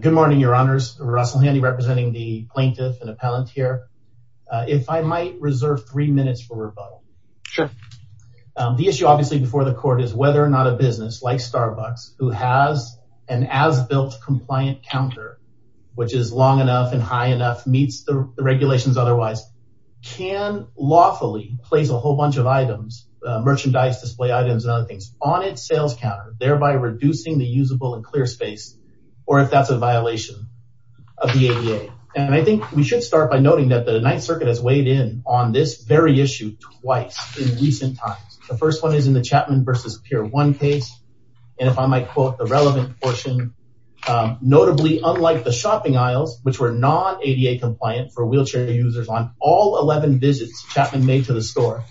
Good morning, your honors. Russell Handy representing the plaintiff and appellant here. If I might reserve three minutes for rebuttal. Sure. The issue obviously before the court is whether or not a business like Starbucks, who has an as-built compliant counter, which is long enough and high enough, meets the regulations otherwise, can lawfully place a whole bunch of items, merchandise, display items, and other things on its sales counter, thereby reducing the usable and clear space, or if that's a violation of the ADA. And I think we should start by noting that the Ninth Circuit has weighed in on this very issue twice in recent times. The first one is in the Chapman v. Pier 1 case. And if I might quote the relevant portion, notably, unlike the shopping aisles, which were non-ADA compliant for wheelchair users on all 11 visits Chapman made to the store,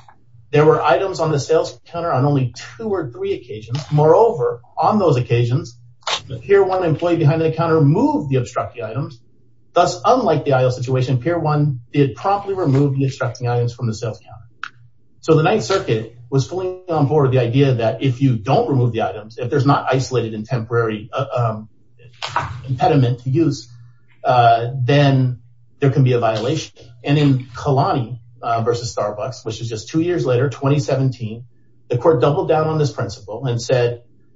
there were items on the sales counter on only two or three occasions. Moreover, on those occasions, the Pier 1 employee behind the counter removed the obstructing items. Thus, unlike the aisle situation, Pier 1 did promptly remove the obstructing items from the sales counter. So the Ninth Circuit was fully on board with the idea that if you don't remove the items, if there's not isolated and temporary impediment to use, then there can be a violation. And in Kalani v. Starbucks, which was just two years later, 2017, the court doubled down on this judgment to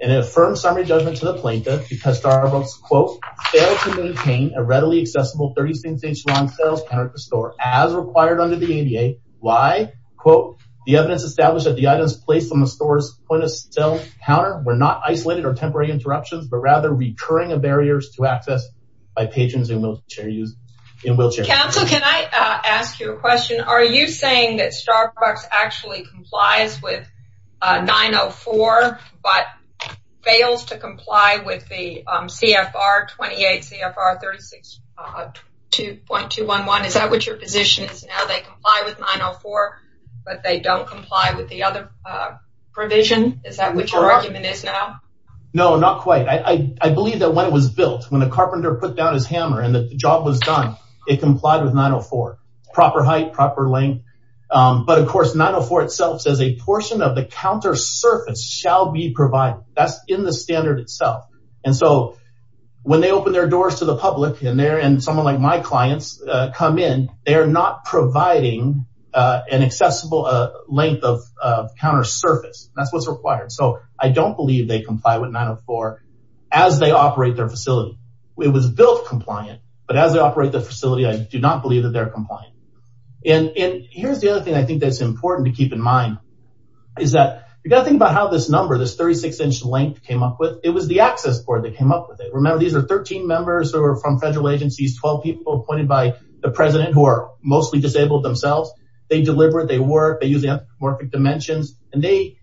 the plaintiff because Starbucks, quote, failed to maintain a readily accessible 36-inch long sales counter at the store, as required under the ADA. Why? Quote, the evidence established that the items placed on the store's point-of-sale counter were not isolated or temporary interruptions, but rather recurring barriers to access by patrons and wheelchair users. Council, can I ask you a question? Are you saying that Starbucks actually complies with 904, but fails to comply with the CFR 28, CFR 36.211? Is that what your position is now? They comply with 904, but they don't comply with the other provision? Is that what your argument is now? No, not quite. I believe that when it was built, when the carpenter put down his hammer and that the job was done, it complied with 904. Proper height, proper length. But of course, 904 itself says a portion of the counter surface shall be provided. That's in the standard itself. And so, when they open their doors to the public and someone like my clients come in, they're not providing an accessible length of counter surface. That's what's required. So, I don't believe they comply with 904 as they operate their facility. It was built compliant, but as they operate the facility, I do not believe that they're compliant. And here's the other thing I think that's important to keep in mind, is that you've got to think about how this number, this 36-inch length came up with. It was the access board that came up with it. Remember, these are 13 members who are from federal agencies, 12 people appointed by the president who are mostly disabled themselves. They deliver, they work, they use the anthropomorphic dimensions, and they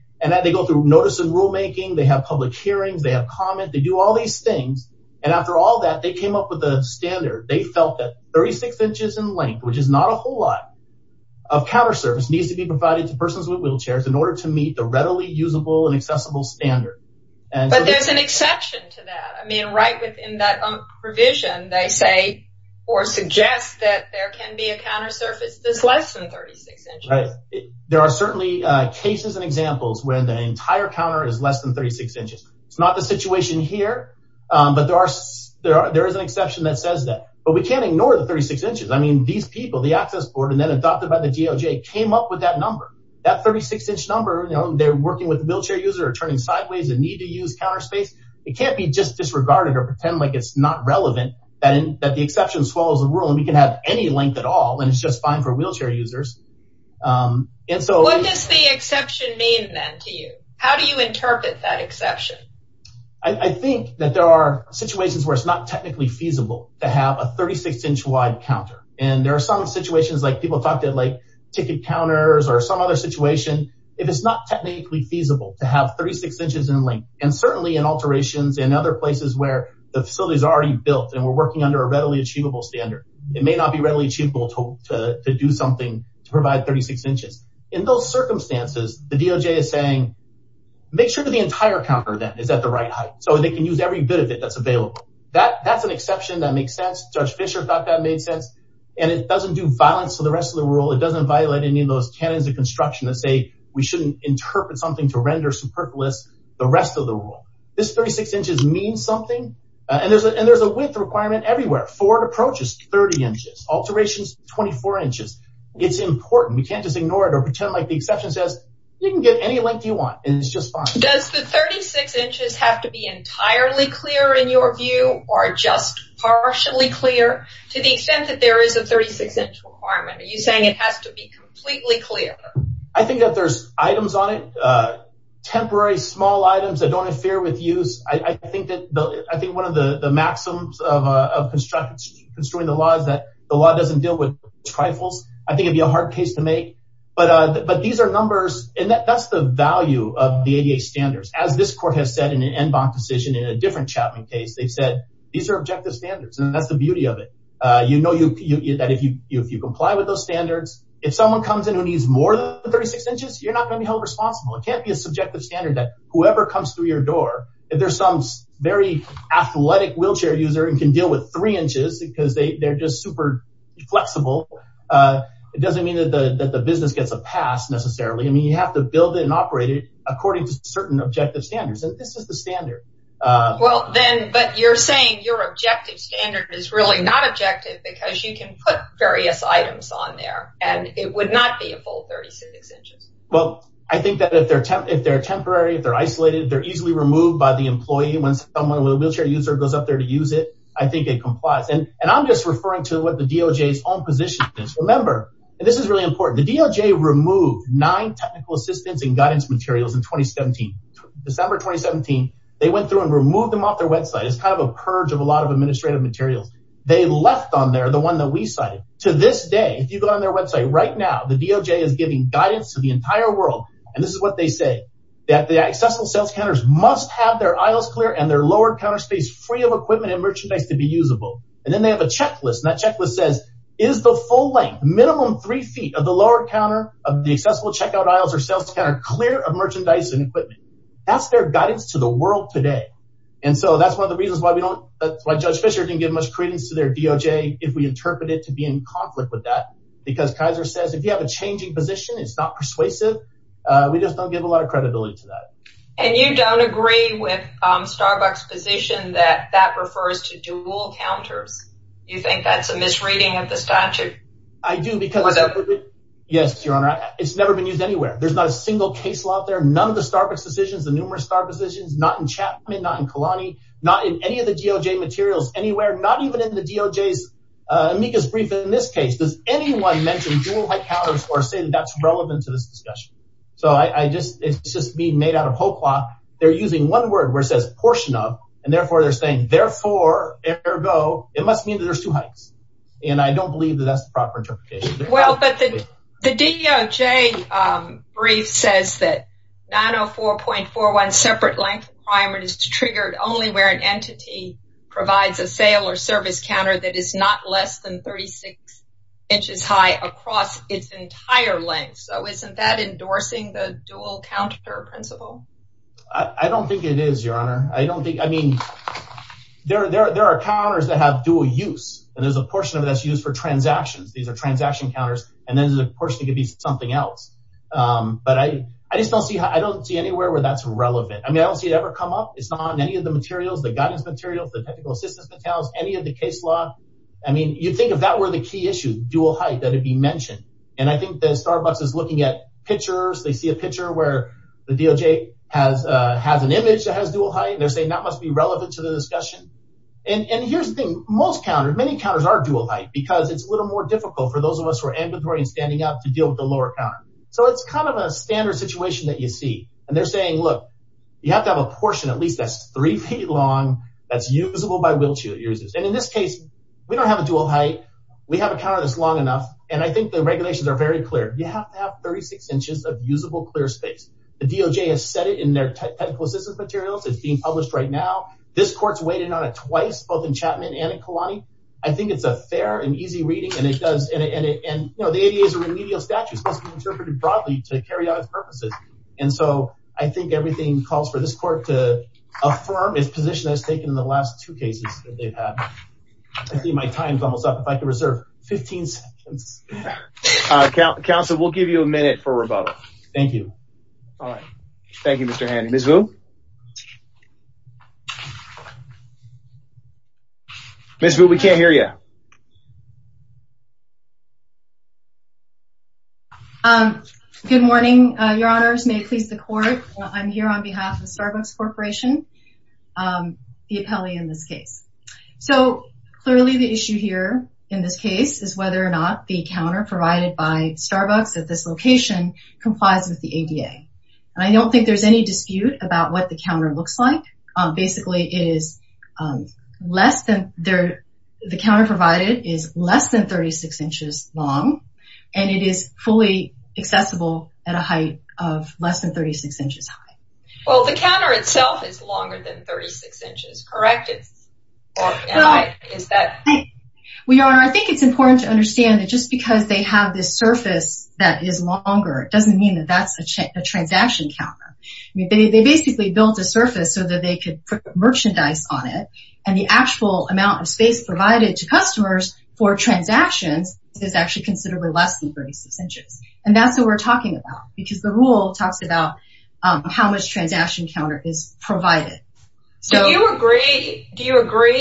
go through notice and rulemaking, they have public hearings, they have comment, they do all these things. And after all that, they came up with a standard. They felt that 36 inches in length, which is not a whole lot, of counter surface needs to be provided to persons with wheelchairs in order to meet the readily usable and accessible standard. But there's an exception to that. I mean, right within that provision, they say or suggest that there can be a counter surface that's less than 36 inches. There are certainly cases and examples when the entire counter is less than 36 inches. It's not the situation here, but there is an exception that says that. But we can't ignore the 36 inches. I mean, these people, the access board, and then adopted by the DOJ came up with that number. That 36-inch number, they're working with the wheelchair user or turning sideways and need to use counter space. It can't be just disregarded or pretend like it's not relevant that the exception swallows the rule and we can have any length at all, and it's just fine for wheelchair users. And so- What does the exception mean then to you? How do you interpret that I think that there are situations where it's not technically feasible to have a 36-inch wide counter. And there are some situations like people thought that like ticket counters or some other situation, if it's not technically feasible to have 36 inches in length, and certainly in alterations and other places where the facilities are already built and we're working under a readily achievable standard, it may not be readily achievable to do something to provide 36 inches. In those circumstances, the DOJ is saying, make sure that the entire counter then is at the right height so they can use every bit of it that's available. That's an exception that makes sense. Judge Fischer thought that made sense. And it doesn't do violence to the rest of the rule. It doesn't violate any of those canons of construction that say we shouldn't interpret something to render superfluous the rest of the rule. This 36 inches means something. And there's a width requirement everywhere. Forward approaches, 30 inches. Alterations, 24 inches. It's important. We can't just ignore it or pretend like the exception says, you can get any length you want, and it's just fine. Does the 36 inches have to be entirely clear in your view or just partially clear to the extent that there is a 36 inch requirement? Are you saying it has to be completely clear? I think that there's items on it. Temporary small items that don't interfere with use. I think one of the maxims of constructing the law is that the law doesn't deal with trifles. I think it'd be a hard case to make. But these are numbers, and that's the value of the ADA standards. As this court has said in an NBOC decision in a different Chapman case, they've said these are objective standards. And that's the beauty of it. You know that if you comply with those standards, if someone comes in who needs more than 36 inches, you're not going to be held responsible. It can't be a subjective standard that whoever comes through your door, if there's some very athletic wheelchair user and can deal with three inches because they're just super flexible, it doesn't mean that the business gets a pass necessarily. I mean, you have to build it and operate it according to certain objective standards. And this is the standard. But you're saying your objective standard is really not objective because you can put various items on there and it would not be a full 36 inches. Well, I think that if they're temporary, if they're isolated, they're easily removed by the employee. When a wheelchair user goes up there to use it, I think it complies. And I'm just referring to what the DOJ's own position is. Remember, and this is really important, the DOJ removed nine technical assistance and guidance materials in December 2017. They went through and removed them off their website. It's kind of a purge of a lot of administrative materials. They left on there the one that we cited. To this day, if you go on their website right now, the DOJ is giving guidance to the entire world. And this is what they say, that the accessible sales counters must have their aisles clear and their lower counter space free of equipment and merchandise to be usable. And then they have a checklist. And that checklist says, is the full length, minimum three feet of the lower counter of the accessible checkout aisles or sales counter clear of merchandise and equipment? That's their guidance to the world today. And so that's one of the reasons why we don't, that's why Judge Fisher didn't give much credence to their DOJ if we interpret it to be in conflict with that. Because Kaiser says, if you have a position, it's not persuasive. We just don't give a lot of credibility to that. And you don't agree with Starbucks position that that refers to dual counters. You think that's a misreading of the statute? I do because, yes, Your Honor, it's never been used anywhere. There's not a single case law out there. None of the Starbucks decisions, the numerous star positions, not in Chapman, not in Kalani, not in any of the DOJ materials anywhere, not even in the DOJ's amicus brief. In this case, does anyone mention dual height counters or say that that's relevant to this discussion? It's just being made out of whole cloth. They're using one word where it says portion of, and therefore they're saying, therefore, ergo, it must mean that there's two heights. And I don't believe that that's the proper interpretation. Well, but the DOJ brief says that 904.41 separate length requirement is triggered only where an inch is high across its entire length. So isn't that endorsing the dual counter principle? I don't think it is, Your Honor. I don't think, I mean, there are counters that have dual use, and there's a portion of it that's used for transactions. These are transaction counters, and then there's a portion that could be something else. But I just don't see, I don't see anywhere where that's relevant. I mean, I don't see it ever come up. It's not in any of the materials, the guidance materials, the technical assistance materials, any of the issues, dual height that have been mentioned. And I think that Starbucks is looking at pictures, they see a picture where the DOJ has an image that has dual height, and they're saying that must be relevant to the discussion. And here's the thing, most counters, many counters are dual height because it's a little more difficult for those of us who are ambulatory and standing up to deal with the lower counter. So it's kind of a standard situation that you see. And they're saying, look, you have to have a portion, at least that's three feet long, that's usable by this long enough. And I think the regulations are very clear. You have to have 36 inches of usable, clear space. The DOJ has said it in their technical assistance materials. It's being published right now. This court's weighed in on it twice, both in Chapman and in Kalani. I think it's a fair and easy reading, and it does, and you know, the ADA is a remedial statute, it's supposed to be interpreted broadly to carry out its purposes. And so I think everything calls for this court to affirm its position that it's taken in the last two cases that they've had. I think my time's almost up. If I could reserve 15 seconds. Counsel, we'll give you a minute for rebuttal. Thank you. All right. Thank you, Mr. Handy. Ms. Vu? Ms. Vu, we can't hear you. Good morning, your honors. May it please the court. I'm here on behalf of Starbucks Corporation, the appellee in this case. So clearly the issue here in this case is whether or not the counter provided by Starbucks at this location complies with the ADA. And I don't think there's any dispute about what the counter looks like. Basically, it is less than, the counter provided is less than 36 inches long, and it is fully accessible at a height of less than 36 inches high. Well, the counter itself is longer than 36 inches, correct? Well, your honor, I think it's important to understand that just because they have this surface that is longer, it doesn't mean that that's a transaction counter. They basically built a surface so that they could put merchandise on it. And the actual amount of space provided to customers for transactions is actually considerably less than 36 inches. And that's what we're talking about, because the rule talks about how much transaction counter is provided. Do you agree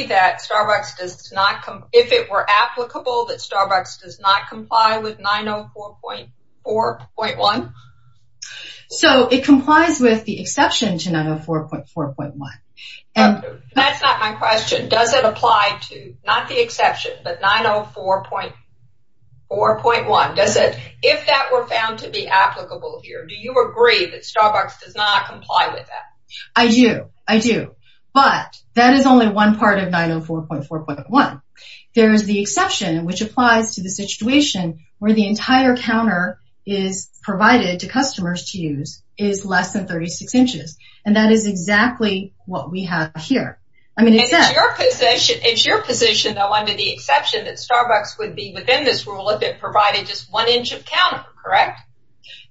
that Starbucks does not, if it were applicable, that Starbucks does not comply with 904.4.1? So it complies with the exception to 904.4.1. That's not my question. Does it apply to, not the exception, but 904.4.1? Does it, if that were found to be applicable here, do you agree that Starbucks does not comply with that? I do. I do. But that is only one part of 904.4.1. There's the exception, which applies to the situation where the entire counter is provided to customers to use is less than 36 inches. And that is exactly what we have here. I mean, it's your position, though, under the exception that Starbucks would be within this rule if it provided just one inch of counter, correct?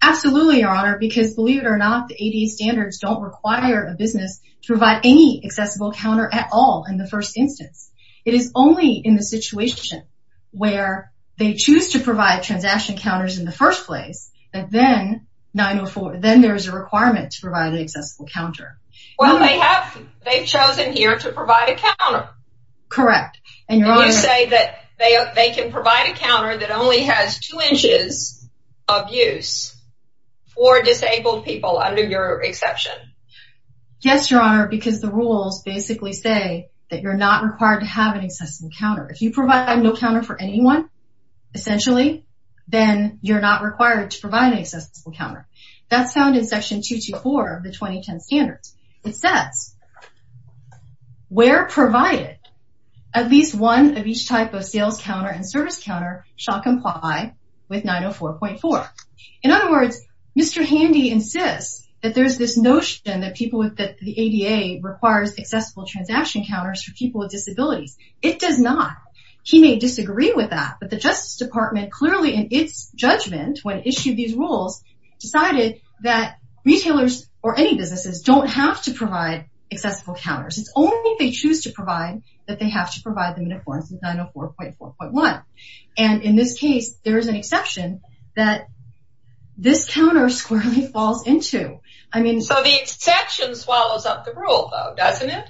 Absolutely, Your Honor, because believe it or not, the ADA standards don't require a business to provide any accessible counter at all in the first instance. It is only in the situation where they choose to provide transaction counters in the first place that then 904, then there is a requirement to provide an accessible counter. Well, they have, they've chosen here to provide a counter. Correct. And you say that they can provide a counter that only has two inches of use for disabled people under your exception? Yes, Your Honor, because the rules basically say that you're not required to have an accessible counter. If you provide no counter for anyone, essentially, then you're not required to provide an accessible counter. That's found in section 224 of the 2010 standards. It says, where provided, at least one of each type of sales counter and service counter shall comply with 904.4. In other words, Mr. Handy insists that there's this notion that people with the ADA requires accessible transaction counters for people with disabilities. It does not. He may decided that retailers or any businesses don't have to provide accessible counters. It's only if they choose to provide that they have to provide them in accordance with 904.4.1. And in this case, there is an exception that this counter squarely falls into. I mean, so the exception swallows up the rule, though, doesn't it?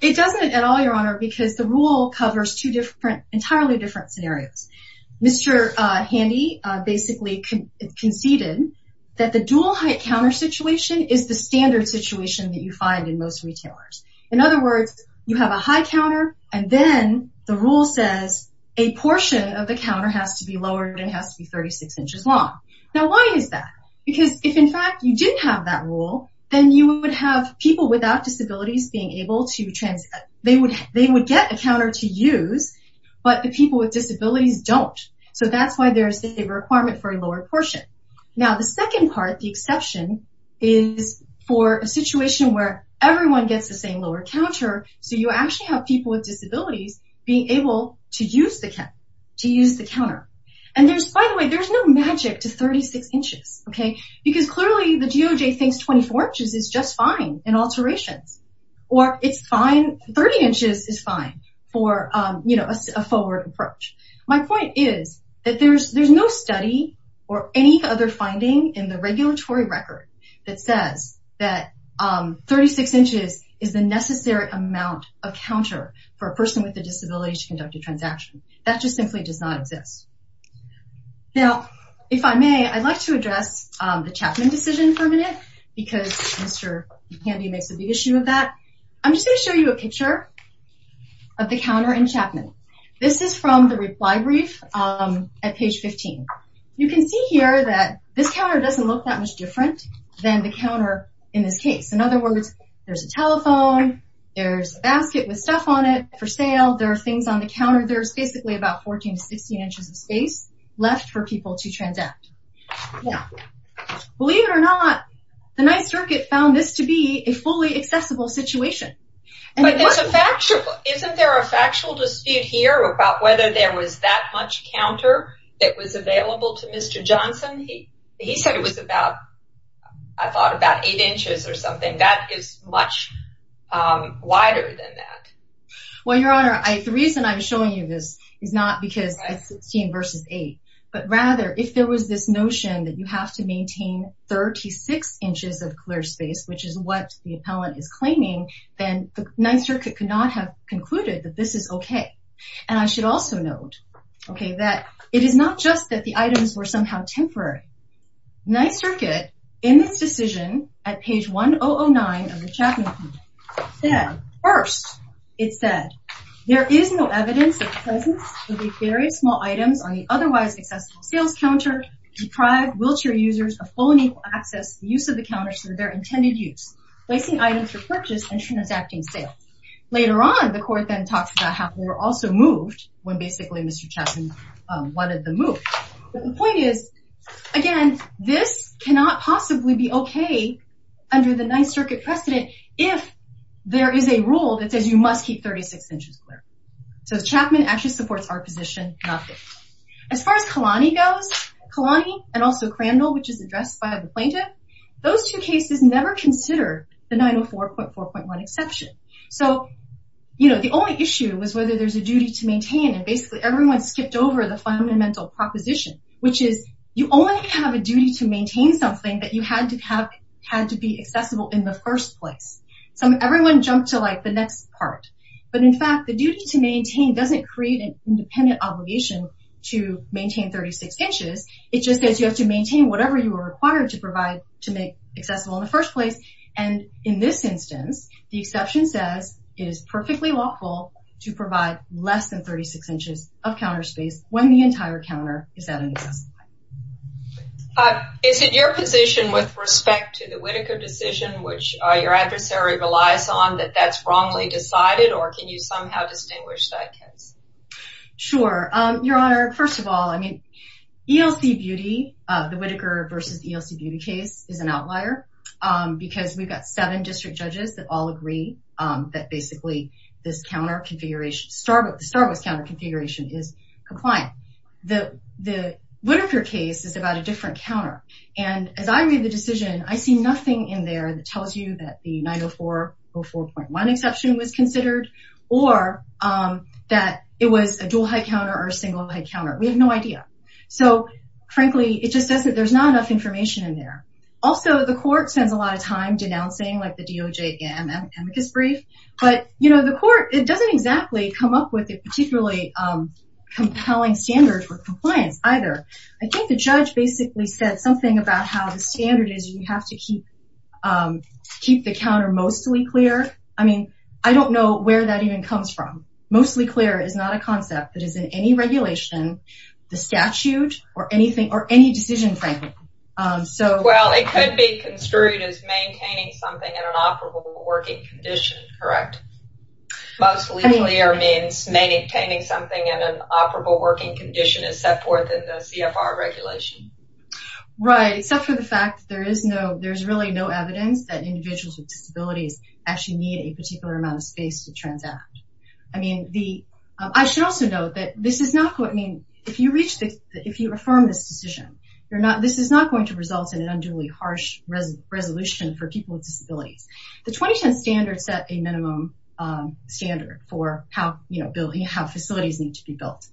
It doesn't at all, Your Honor, because the rule covers two different entirely different scenarios. Mr. Handy basically conceded that the dual height counter situation is the standard situation that you find in most retailers. In other words, you have a high counter, and then the rule says a portion of the counter has to be lowered and has to be 36 inches long. Now, why is that? Because if, in fact, you didn't have that rule, then you would have people without disabilities being able to they would get a counter to use, but the people with disabilities don't. So that's why there's a requirement for a lower portion. Now, the second part, the exception, is for a situation where everyone gets the same lower counter. So you actually have people with disabilities being able to use the counter. And there's, by the way, there's no magic to 36 inches, okay? Because clearly, the DOJ thinks 24 inches is just fine in alterations, or it's fine, 30 inches is fine for a forward approach. My point is that there's no study or any other finding in the regulatory record that says that 36 inches is the necessary amount of counter for a person with a disability to conduct a transaction. That just simply does not exist. Now, if I may, I'd like to address the Chapman decision for a minute, because Mr. McCandie makes a big issue of that. I'm just going to show you a picture of the counter in Chapman. This is from the reply brief at page 15. You can see here that this counter doesn't look that much different than the counter in this case. In other words, there's a telephone, there's a basket with stuff on it for sale, there are things on the counter, there's basically about 14 to 16 inches of space left for people to transact. Now, believe it or not, the Ninth Circuit found this to be a fully accessible situation. But isn't there a factual dispute here about whether there was that much counter that was available to Mr. Johnson? He said it was about, I thought, about eight inches or something. That is much wider than that. Well, Your Honor, the reason I'm showing you this is not because it's 16 that you have to maintain 36 inches of clear space, which is what the appellant is claiming, then the Ninth Circuit could not have concluded that this is okay. And I should also note that it is not just that the items were somehow temporary. Ninth Circuit, in its decision at page 1009 of the Chapman Appeal, said, first, it said, there is no evidence of presence of buried small items on the otherwise accessible sales counter to deprive wheelchair users of full and equal access to the use of the counters to their intended use, placing items for purchase and transacting sale. Later on, the court then talks about how they were also moved when basically Mr. Chapman wanted them moved. But the point is, again, this cannot possibly be okay under the Ninth Circuit precedent if there is a rule that says you must keep 36 inches clear. So Chapman actually supports our position, not this one. As far as Kalani goes, Kalani and also Crandall, which is addressed by the plaintiff, those two cases never considered the 904.4.1 exception. So the only issue was whether there's a duty to maintain. And basically everyone skipped over the fundamental proposition, which is you only have a duty to maintain something that you had to have had to be in the first place. Everyone jumped to the next part. But in fact, the duty to maintain doesn't create an independent obligation to maintain 36 inches. It just says you have to maintain whatever you are required to provide to make accessible in the first place. And in this instance, the exception says it is perfectly lawful to provide less than 36 inches of counter accessibility. Is it your position with respect to the Whitaker decision, which your adversary relies on, that that's wrongly decided? Or can you somehow distinguish that case? Sure. Your Honor, first of all, I mean, ELC Beauty, the Whitaker versus ELC Beauty case, is an outlier because we've got seven district judges that all agree that basically this counter configuration is compliant. The Whitaker case is about a different counter. And as I read the decision, I see nothing in there that tells you that the 904.4.1 exception was considered or that it was a dual head counter or a single head counter. We have no idea. So frankly, it just says that there's not enough information in there. Also, the court spends a lot of time denouncing like the DOJ amicus brief. But, you know, the compelling standard for compliance either. I think the judge basically said something about how the standard is you have to keep the counter mostly clear. I mean, I don't know where that even comes from. Mostly clear is not a concept that is in any regulation, the statute, or anything, or any decision, frankly. Well, it could be construed as maintaining something in an operable working condition, correct? Mostly clear means maintaining something in an operable working condition is set forth in the CFR regulation. Right, except for the fact that there is no, there's really no evidence that individuals with disabilities actually need a particular amount of space to transact. I mean, the, I should also note that this is not, I mean, if you reach this, if you affirm this decision, you're not, this is not going to result in an minimum standard for how, you know, how facilities need to be built.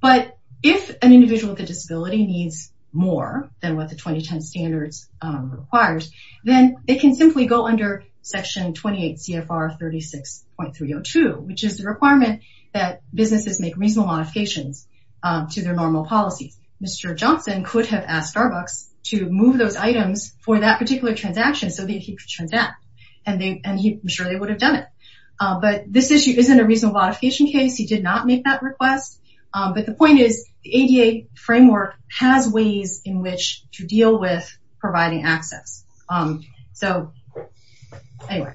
But if an individual with a disability needs more than what the 2010 standards required, then it can simply go under section 28 CFR 36.302, which is the requirement that businesses make reasonable modifications to their normal policies. Mr. Johnson could have asked Starbucks to move those items for that particular transaction so that he could transact. And they, and he, I'm sure they would have done it. But this issue isn't a reasonable modification case. He did not make that request. But the point is the ADA framework has ways in which to deal with providing access. So anyway,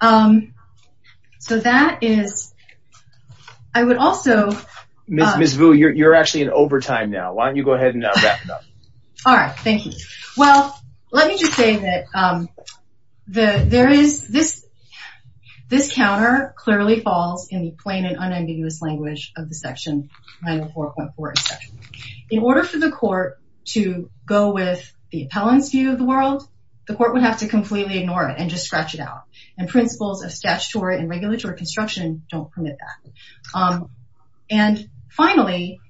so that is, I would also- Ms. Vu, you're actually in overtime now. Why don't you go ahead and wrap it up? All right. Thank you. Well, let me just say that the, there is this, this counter clearly falls in the plain and unambiguous language of the section 904.4. In order for the court to go with the appellant's view of the world, the court would have to completely ignore it and just scratch it out. And principles of statutory and regulatory construction don't permit that. And finally,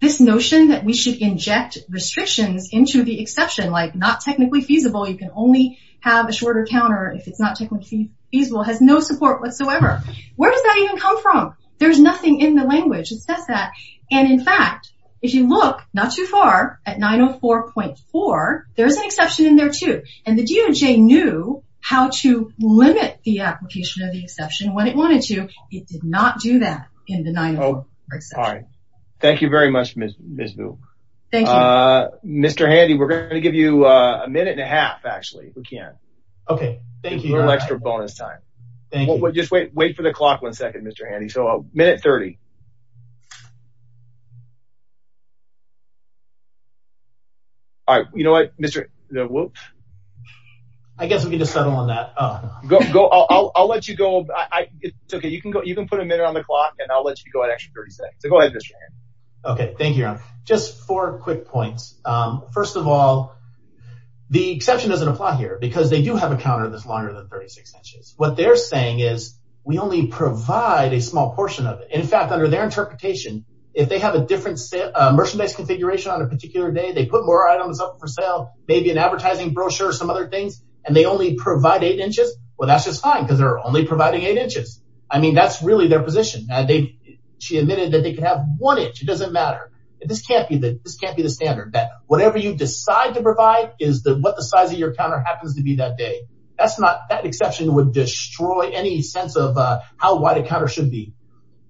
this notion that we should inject restrictions into the exception, like not technically feasible, you can only have a shorter counter if it's not technically feasible, has no support whatsoever. Where does that even come from? There's nothing in the language. It says that. And in fact, if you look not too far at 904.4, there's an exception in there too. And the DOJ knew how to limit the application of the exception when it wanted to. It did not do that in the 904.4 exception. All right. Thank you very much, Ms. Vu. Thank you. Mr. Handy, we're going to give you a minute and a half, actually, if we can. Okay. Thank you. A little extra bonus time. Just wait for the clock one second, Mr. Handy. So, minute 30. All right. You know what, Mr. Handy? I guess we can just settle on that. I'll let you go. It's okay. You can put a minute on the clock and I'll let you go an extra 30 seconds. So, go ahead, Mr. Handy. Okay. Thank you. Just four quick points. First of all, the exception doesn't apply here because they do have a counter that's longer than 36 inches. What they're saying is we only provide a small portion of it. In fact, under their interpretation, if they have a different merchandise configuration on a particular day, they put more items up for sale, maybe an advertising brochure, some other things, and they only provide eight inches, well, that's just fine because they're only providing eight inches. I mean, that's really their position. She admitted that they could have one inch. It doesn't matter. This can't be the standard. Whatever you decide to provide is what the size of your counter happens to be that day. That exception would destroy any sense of how wide a counter should be.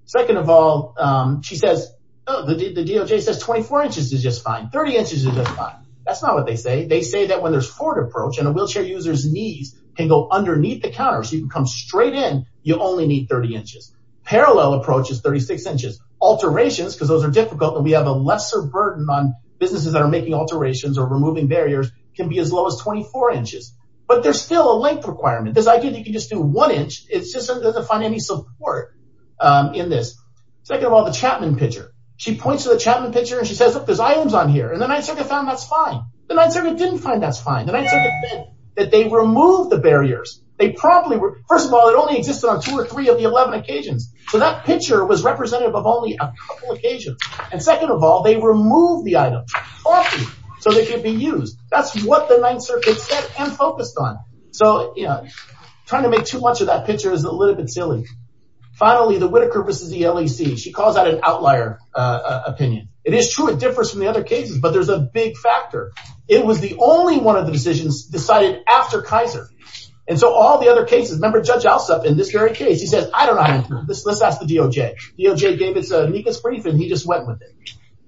Second of all, the DOJ says 24 inches is just fine. 30 inches is just fine. That's not what they say. They say that when there's forward approach and a wheelchair user's knees can go underneath the counter so you can come straight in, you only need 30 inches. Parallel approach is 36 inches. Alterations, because those are difficult and we have a lesser burden on businesses that are making alterations or removing barriers, can be as low as 24 inches. But there's still a length requirement. This idea that you can just do one inch, it just doesn't find any support in this. Second of all, the Chapman picture. She points to the Chapman picture and she says, look, there's items on here. And the Ninth Circuit found that's fine. The Ninth Circuit didn't find that's fine. The Ninth Circuit said that they removed the barriers. They probably were, first of all, it only existed on two or three of the 11 occasions. So that picture was representative of only a couple of occasions. And second of all, they removed the items so they could be used. That's what the Ninth Circuit said and focused on. So, you know, trying to make too much of that picture is a little bit silly. Finally, the Whitaker versus the LEC. She calls that an outlier opinion. It is true, it differs from the other cases, but there's a big factor. It was the only one of the decisions decided after Kaiser. And so all the other cases, remember Judge Alsop in this very case, he says, I don't know. Let's ask the DOJ. DOJ gave us a NICAS brief and he just went with it.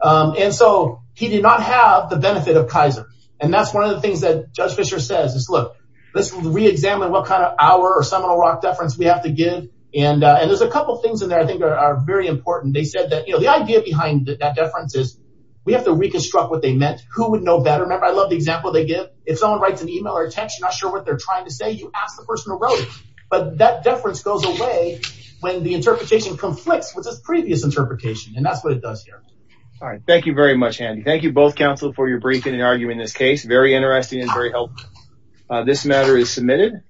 And so he did not have the benefit of Kaiser. And that's one of the things that Judge Fischer says is, look, let's re-examine what kind of our or Seminole Rock deference we have to give. And there's a couple of things in there I think are very important. They said that, you know, the idea behind that deference is we have to reconstruct what they meant, who would know better. Remember, I love the example they give. If someone writes an email or a text, you're not sure what they're trying to say, you ask the person who wrote it. But that deference goes away when the interpretation conflicts with this previous interpretation. And that's what it does here. All right. Thank you very much, Andy. Thank you both, counsel, for your briefing and arguing this case. Very interesting and very helpful. This matter is submitted.